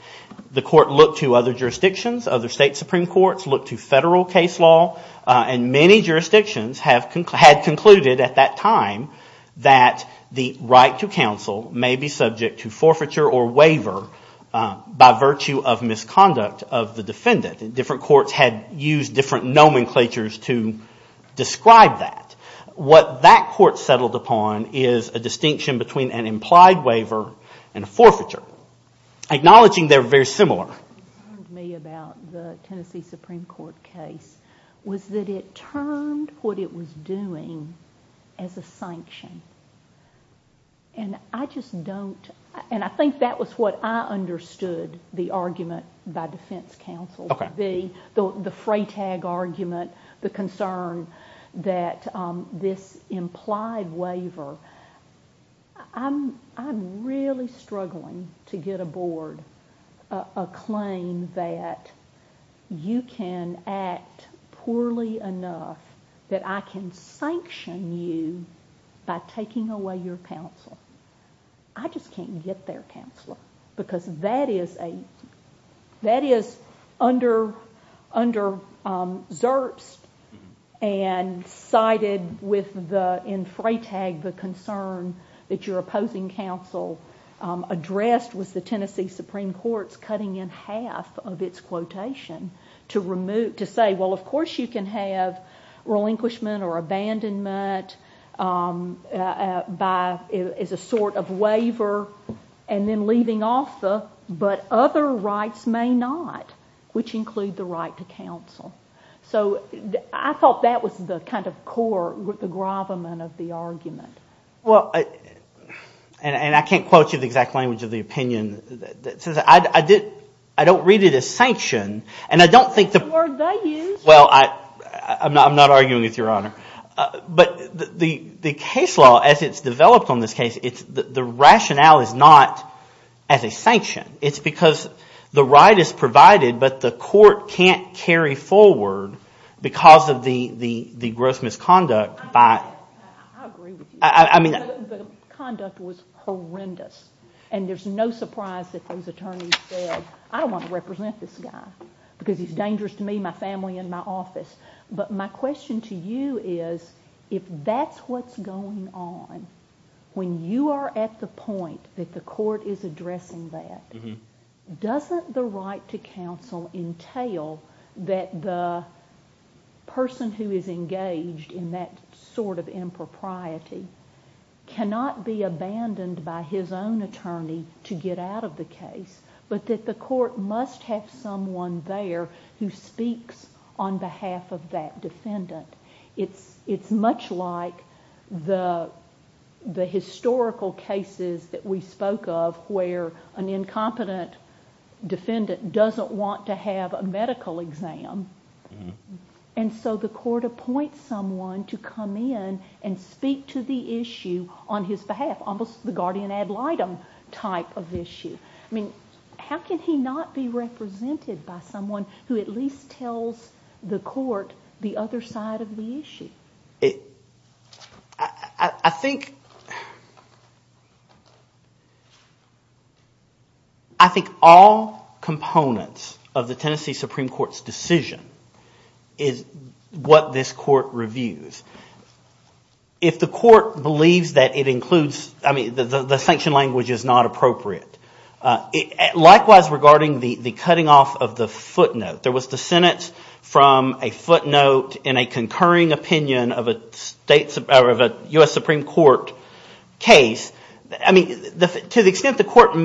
The court looked to other jurisdictions, other state Supreme Courts, looked to federal case law, and many jurisdictions have a right to a first impression. And had concluded at that time that the right to counsel may be subject to forfeiture or waiver by virtue of misconduct of the defendant. Different courts had used different nomenclatures to describe that. What that court settled upon is a distinction between an implied waiver and a forfeiture. Acknowledging they're very similar. What concerned me about the Tennessee Supreme Court case was that it termed what it was doing as a sanction. And I just don't, and I think that was what I understood the argument by defense counsel. The fray tag argument, the concern that this implied waiver. I'm really struggling to get aboard a claim that you can act poorly enough that I can sanction you by taking away your counsel. I just can't get there, Counselor. Because that is underserved and sided with the, in fray tag, the concern of the defense counsel. The concern that your opposing counsel addressed was the Tennessee Supreme Court's cutting in half of its quotation to say, well, of course you can have relinquishment or abandonment as a sort of waiver, and then leaving off the, but other rights may not, which include the right to counsel. So I thought that was the kind of core, the gravamen of the argument. Well, and I can't quote you the exact language of the opinion. I don't read it as sanction, and I don't think the – Well, I'm not arguing with you, Your Honor. But the case law as it's developed on this case, the rationale is not as a sanction. It's because the right is provided, but the court can't carry forward because of the gross misconduct by – I agree with you. The conduct was horrendous. And there's no surprise that those attorneys said, I don't want to represent this guy because he's dangerous to me, my family, and my office. But my question to you is if that's what's going on, when you are at the point that the court is addressing that, doesn't the right to counsel entail that the person who is engaged in that sort of impropriety cannot be abandoned by his own attorney to get out of the case, but that the court must have someone there who speaks on behalf of that defendant? It's much like the historical cases that we spoke of where an incompetent defendant doesn't want to have a medical exam. And so the court appoints someone to come in and speak to the issue on his behalf, almost the guardian ad litem type of issue. How can he not be represented by someone who at least tells the court the other side of the issue? I think all components of the Tennessee Supreme Court's decision is what this court reviews. If the court believes that it includes – I mean the sanction language is not appropriate. Likewise regarding the cutting off of the footnote. There was dissent from a footnote in a concurring opinion of a U.S. Supreme Court case. I mean to the extent the court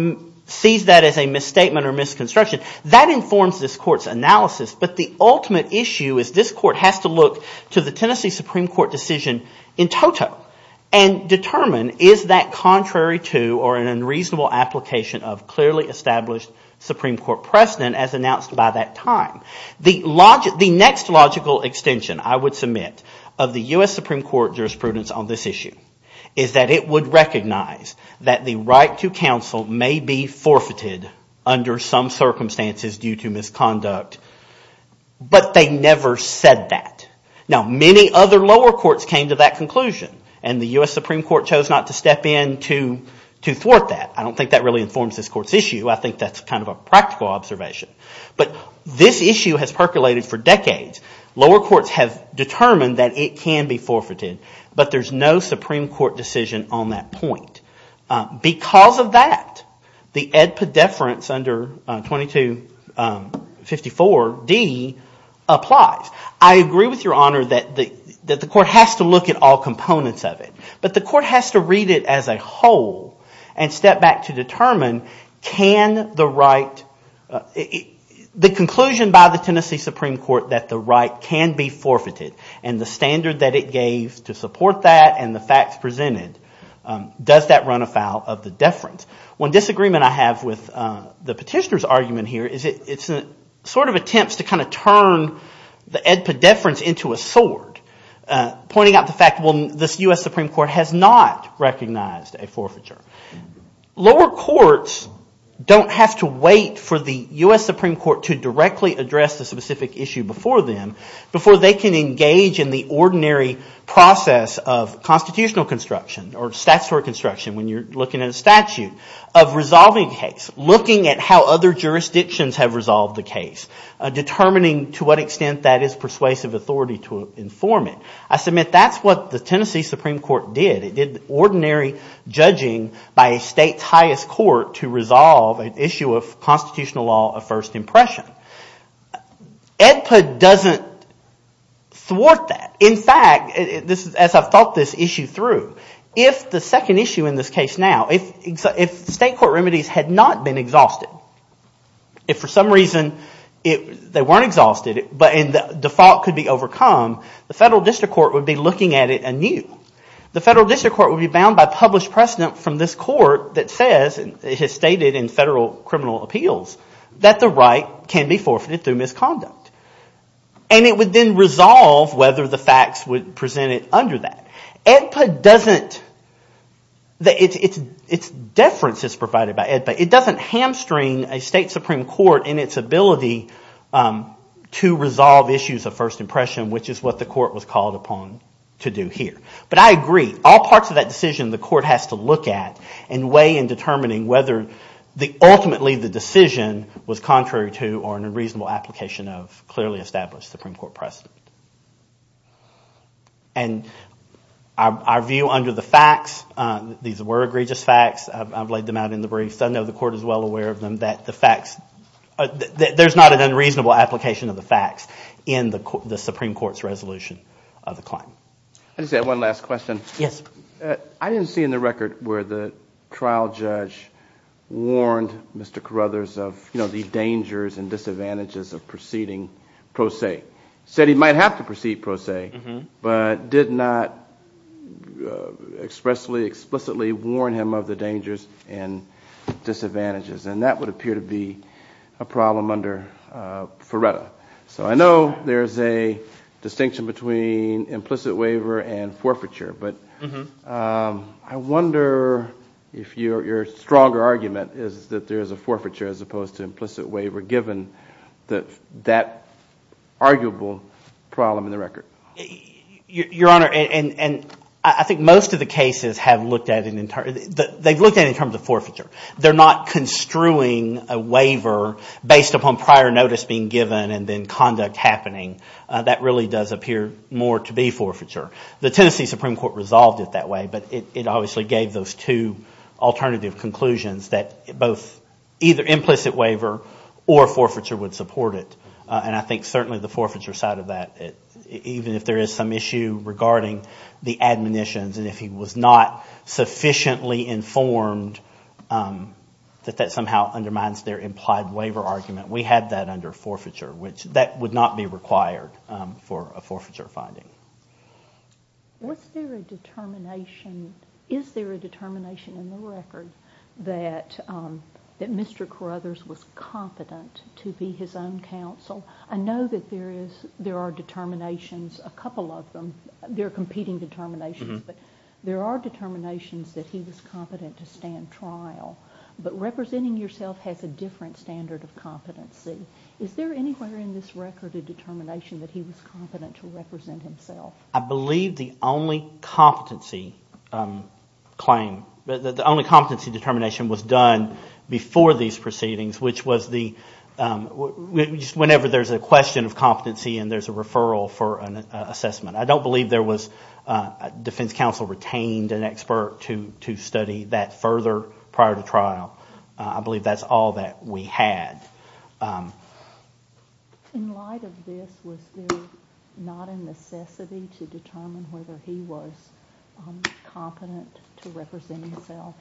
sees that as a misstatement or misconstruction, that informs this court's analysis. It can look at the Supreme Court decision in toto and determine is that contrary to or an unreasonable application of clearly established Supreme Court precedent as announced by that time. The next logical extension I would submit of the U.S. Supreme Court jurisprudence on this issue is that it would recognize that the right to counsel may be forfeited under some circumstances due to misconduct, but they never said that. Now many other lower courts came to that conclusion. And the U.S. Supreme Court chose not to step in to thwart that. I don't think that really informs this court's issue. I think that's kind of a practical observation. But this issue has percolated for decades. Lower courts have determined that it can be forfeited, but there's no Supreme Court decision on that point. Because of that, the Edpedeference under 2254D applies. I agree with your honor that the court has to look at all components of it. But the court has to read it as a whole and step back to determine can the right, the conclusion by the Tennessee Supreme Court that the right can be forfeited and the standard that it gave to support that and the facts presented, does that run afoul of the deference? One disagreement I have with the petitioner's argument here is it sort of attempts to kind of turn the Edpedeference into a sword, pointing out the fact, well, this U.S. Supreme Court has not recognized a forfeiture. Lower courts don't have to wait for the U.S. Supreme Court to directly address the specific issue before them before they can engage in the ordinary process of constitutional construction or statutory construction when you're looking at a statute of resolving a case, looking at how other jurisdictions have resolved the case, determining to what extent that is persuasive authority to inform it. I submit that's what the Tennessee Supreme Court did. It did ordinary judging by a state's highest court to resolve an issue of constitutional law of first impression. Edpede doesn't thwart that. In fact, as I've thought this issue through, if the second issue in this case now, if state court remedies had not been exhausted, if for some reason they weren't exhausted, but the default could be overcome, the federal district court would be looking at it anew. The federal district court would be bound by published precedent from this court that says, it has stated in federal criminal appeals that the right can be forfeited through misconduct. And it would then resolve whether the facts would present it under that. Edpede doesn't – its deference is provided by Edpede. It doesn't hamstring a state supreme court in its ability to resolve issues of first impression, which is what the court was called upon to do here. But I agree. All parts of that decision the court has to look at and weigh in determining whether ultimately the decision was contrary to or an unreasonable application of clearly established supreme court precedent. And our view under the facts, these were egregious facts. I've laid them out in the briefs. I know the court is well aware of them, that the facts – there's not an unreasonable application of the facts in the supreme court's resolution of the claim. I just had one last question. I didn't see in the record where the trial judge warned Mr. Carruthers of the dangers and disadvantages of proceeding pro se. Said he might have to proceed pro se, but did not expressly, explicitly warn him of the dangers and disadvantages of proceeding pro se. And that would appear to be a problem under Ferretta. So I know there's a distinction between implicit waiver and forfeiture. But I wonder if your stronger argument is that there's a forfeiture as opposed to implicit waiver given that arguable problem in the record. Your Honor, and I think most of the cases have looked at – they've looked at it in terms of forfeiture. If you're not construing a waiver based upon prior notice being given and then conduct happening, that really does appear more to be forfeiture. The Tennessee Supreme Court resolved it that way, but it obviously gave those two alternative conclusions that both either implicit waiver or forfeiture would support it. And I think certainly the forfeiture side of that, even if there is some issue regarding the admonitions and if he was not sufficiently informed, that that somehow undermines their implied waiver argument. We had that under forfeiture, which that would not be required for a forfeiture finding. Was there a determination – is there a determination in the record that Mr. Carruthers was competent to be his own counsel? I know that there is – there are determinations, a couple of them. There are competing determinations, but there are determinations that he was competent to stand trial. But representing yourself has a different standard of competency. Is there anywhere in this record a determination that he was competent to represent himself? I believe the only competency claim – the only competency determination was done before these proceedings, which was the – whenever there's a question of competency and there's a referral for an assessment. I believe there was – defense counsel retained an expert to study that further prior to trial. I believe that's all that we had. In light of this, was there not a necessity to determine whether he was competent to represent himself?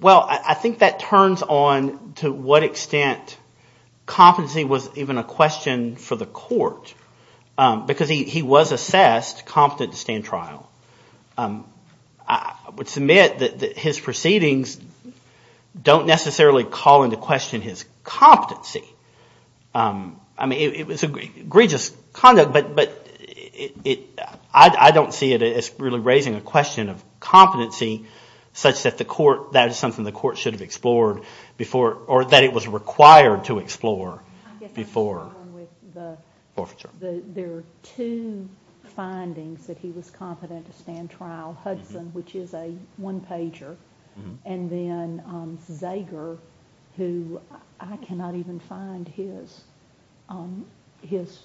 Well, I think that turns on to what extent competency was even a question for the court. Because he was assessed competent to stand trial. I would submit that his proceedings don't necessarily call into question his competency. I mean it was egregious conduct, but I don't see it as really raising a question of competency such that the court – that is something the court should have explored before – or that it was required to explore before the forfeiture. There are two findings that he was competent to stand trial. Hudson, which is a one-pager, and then Zager, who I cannot even find his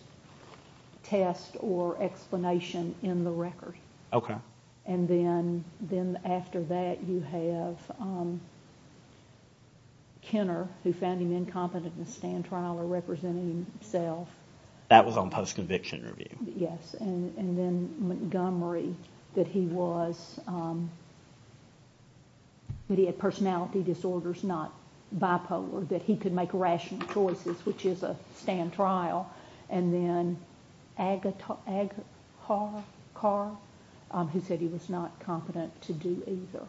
test or explanation in the record. And then after that you have Kenner, who found him incompetent to stand trial or represent himself. That was on post-conviction review. Yes, and then Montgomery, that he was – that he had personality disorders, not bipolar, that he could make rational choices, which is a stand trial. And then Agarcar, who said he was not competent to do either.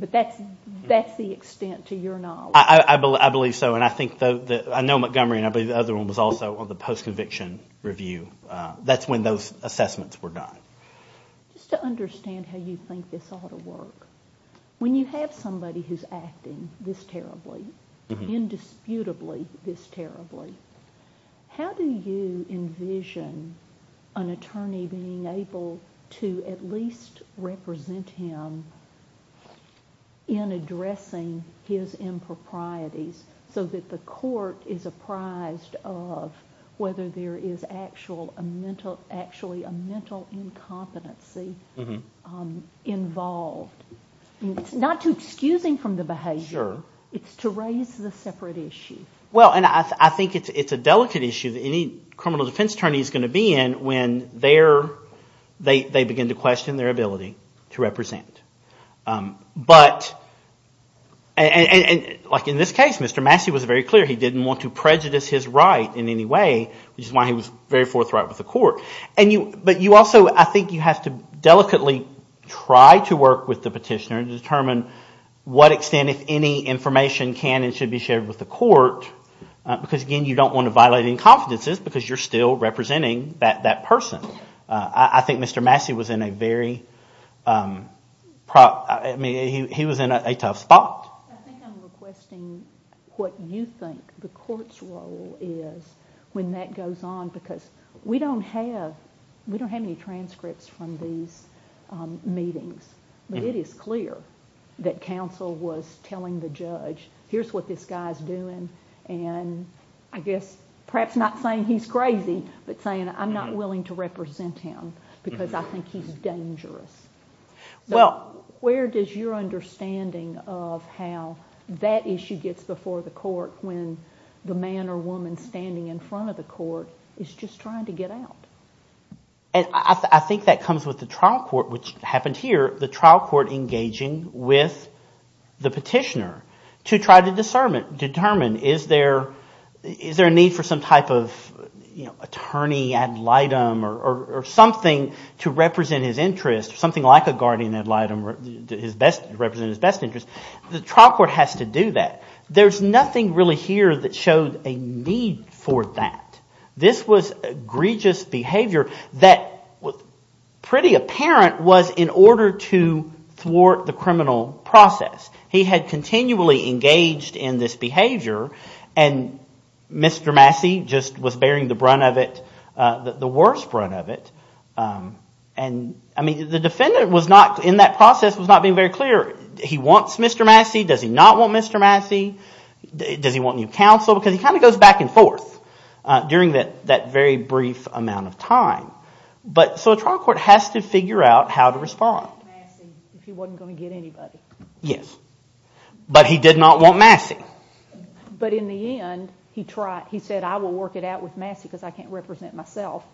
But that's the extent to your knowledge. I believe so, and I think – I know Montgomery, and I believe the other one was also on the post-conviction review. That's when those assessments were done. So that the court is apprised of whether there is actually a mental incompetency involved. It's not to excuse him from the behavior. It's to raise the separate issue. Well, and I think it's a delicate issue that any criminal defense attorney is going to be in when they begin to question their ability to represent. But – and like in this case, Mr. Massey was very clear he didn't want to prejudice his right in any way, which is why he was very forthright with the court. But you also – I think you have to delicately try to work with the petitioner to determine what extent, if any, information can and should be shared with the court. Because, again, you don't want to violate any confidences because you're still representing that person. I think Mr. Massey was in a very – I mean, he was in a tough spot. I think I'm requesting what you think the court's role is when that goes on. Because we don't have – we don't have any transcripts from these meetings. But it is clear that counsel was telling the judge, here's what this guy's doing. And I guess perhaps not saying he's crazy, but saying I'm not willing to represent him because I think he's dangerous. So where does your understanding of how that issue gets before the court when the man or woman standing in front of the court is just trying to get out? And I think that comes with the trial court, which happened here, the trial court engaging with the petitioner to try to determine if he's dangerous. Is there a need for some type of attorney ad litem or something to represent his interest, something like a guardian ad litem to represent his best interest? The trial court has to do that. There's nothing really here that showed a need for that. This was egregious behavior that pretty apparent was in order to thwart the criminal process. He had continually engaged in this behavior and Mr. Massey just was bearing the brunt of it, the worst brunt of it. And I mean the defendant was not, in that process, was not being very clear. He wants Mr. Massey. Does he not want Mr. Massey? Does he want new counsel? Because he kind of goes back and forth during that very brief amount of time. So a trial court has to figure out how to respond. Yes, but he did not want Massey. But in the end, he said, I will work it out with Massey because I can't represent myself.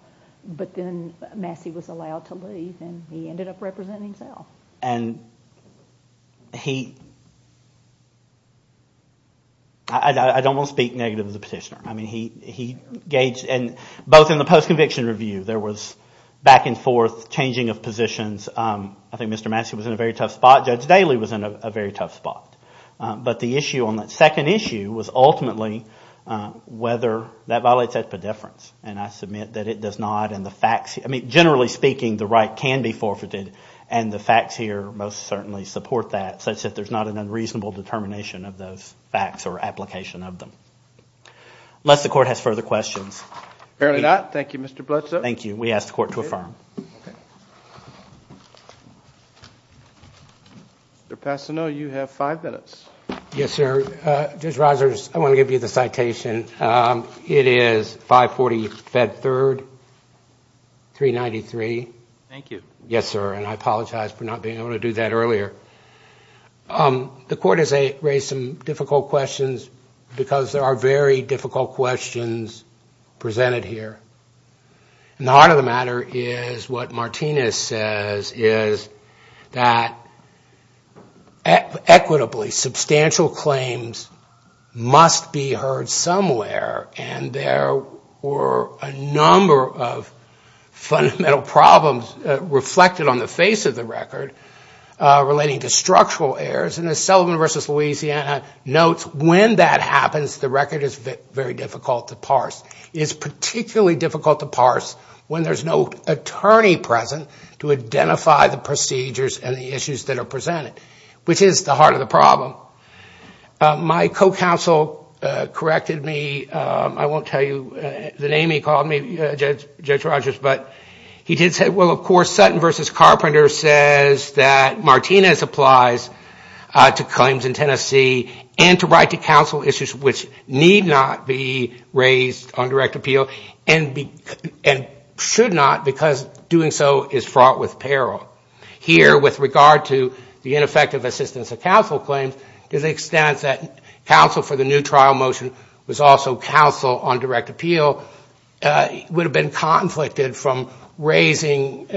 But then Massey was allowed to leave, and he ended up representing himself. I don't want to speak negative of the petitioner. Both in the post-conviction review, there was back and forth changing of positions. I think Mr. Massey was in a very tough spot. Judge Daley was in a very tough spot. But the issue on that second issue was ultimately whether that violates expediteference. Generally speaking, the right can be forfeited and the facts here most certainly support that, such that there's not an unreasonable determination of those facts or application of them. Unless the court has further questions. Thank you. We ask the court to affirm. I want to give you the citation. It is 540 Fed Third 393. Yes, sir, and I apologize for not being able to do that earlier. The court has raised some difficult questions because there are very difficult questions presented here. And the heart of the matter is what Martinez says is that equitably, substantial claims must be heard somewhere, and there were a number of fundamental problems reflected on the face of the record relating to structural errors. And as Sullivan v. Louisiana notes, when that happens, the record is very difficult to parse. It is particularly difficult to parse when there's no attorney present to identify the procedures and the issues that are presented, which is the heart of the problem. My co-counsel corrected me. I won't tell you the name he called me, Judge Rogers, but he did say, well, of course, Sutton v. Carpenter says that Martinez applies to claims in Tennessee and to write to counsel issues which need not be raised on direct appeal and should not because doing so is fraught with peril. Here, with regard to the ineffective assistance of counsel claims, to the extent that counsel for the new trial motion was also counsel on direct appeal would have been conflicted from raising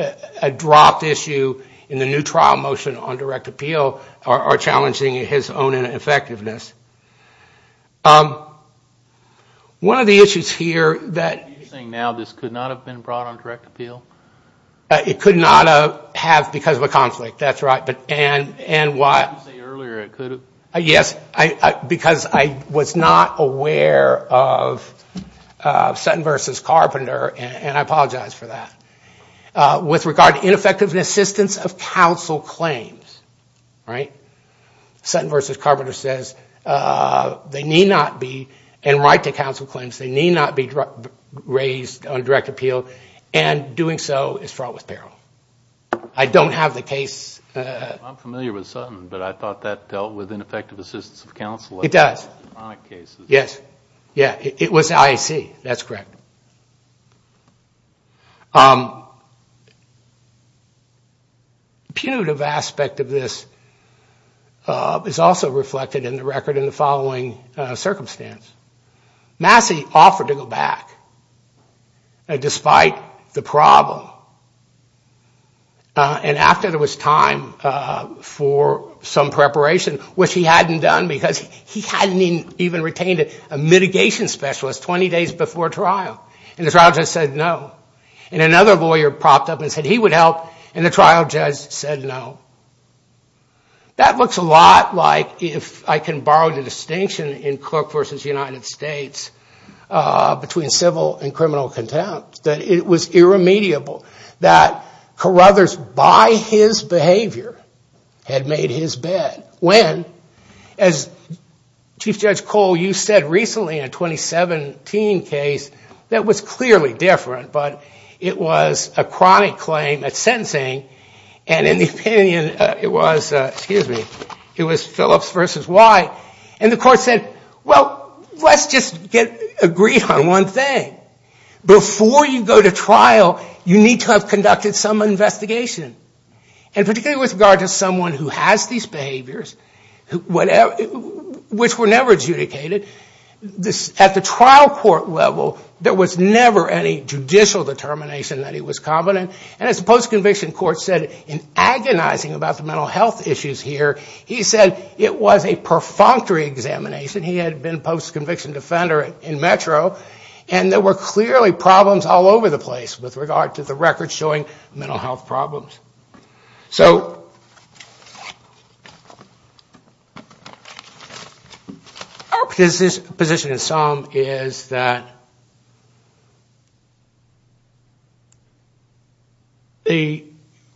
a dropped issue in the new trial motion on direct appeal or challenging his own effectiveness. One of the issues here that... It could not have because of a conflict, that's right. And why... Because I was not aware of Sutton v. Carpenter, and I apologize for that. With regard to ineffective assistance of counsel claims, right, Sutton v. Carpenter says they need not be and write to counsel claims, they need not be raised on direct appeal and doing so is fraught with peril. I don't have the case... I'm familiar with Sutton, but I thought that dealt with ineffective assistance of counsel. It does. Punitive aspect of this is also reflected in the record in the following circumstance. Massey offered to go back, despite the problem. And after there was time for some preparation, which he hadn't done because he hadn't even retained a mitigation specialist 20 days before trial, and the trial judge said no. And another lawyer propped up and said he would help, and the trial judge said no. That looks a lot like, if I can borrow the distinction in Cook v. United States, between civil and criminal contempt. That it was irremediable that Carruthers, by his behavior, had made his bed. When, as Chief Judge Cole, you said recently in a 2017 case that was clearly different, but it was a chronic claim at sentencing, and in the opinion it was Phillips v. White. And the court said, well, let's just agree on one thing. Before you go to trial, you need to have conducted some investigation. And particularly with regard to someone who has these behaviors, which were never adjudicated, at the trial court level, there was never any judicial determination that he was competent. And as the post-conviction court said, in agonizing about the mental health issues here, he said it was a perfunctory examination. There were clearly problems all over the place with regard to the records showing mental health problems. So our position in sum is that the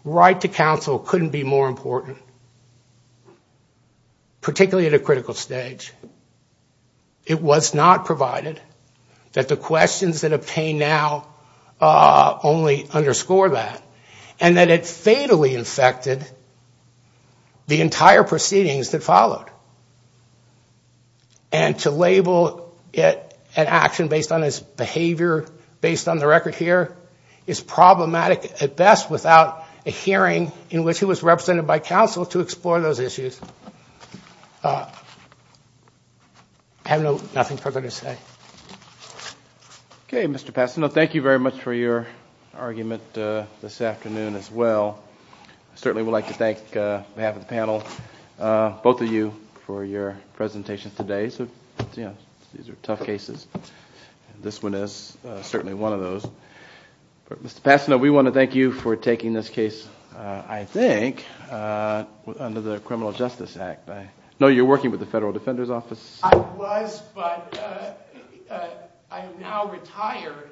right to counsel couldn't be more important, particularly at a critical stage. It was not provided that the questions that obtained now only underscore that. And that it fatally infected the entire proceedings that followed. And to label it an action based on his behavior, based on the record here, is problematic at best without a hearing in which he was represented by counsel to explore those issues. I have nothing further to say. I was, but I am now retired.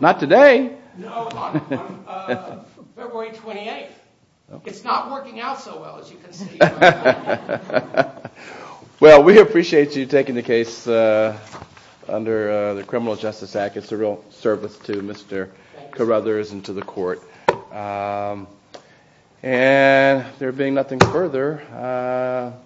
Not today. No, on February 28th. It's not working out so well, as you can see. Well, we appreciate you taking the case under the Criminal Justice Act. It's a real service to Mr. Carruthers and to the court. And there being nothing further...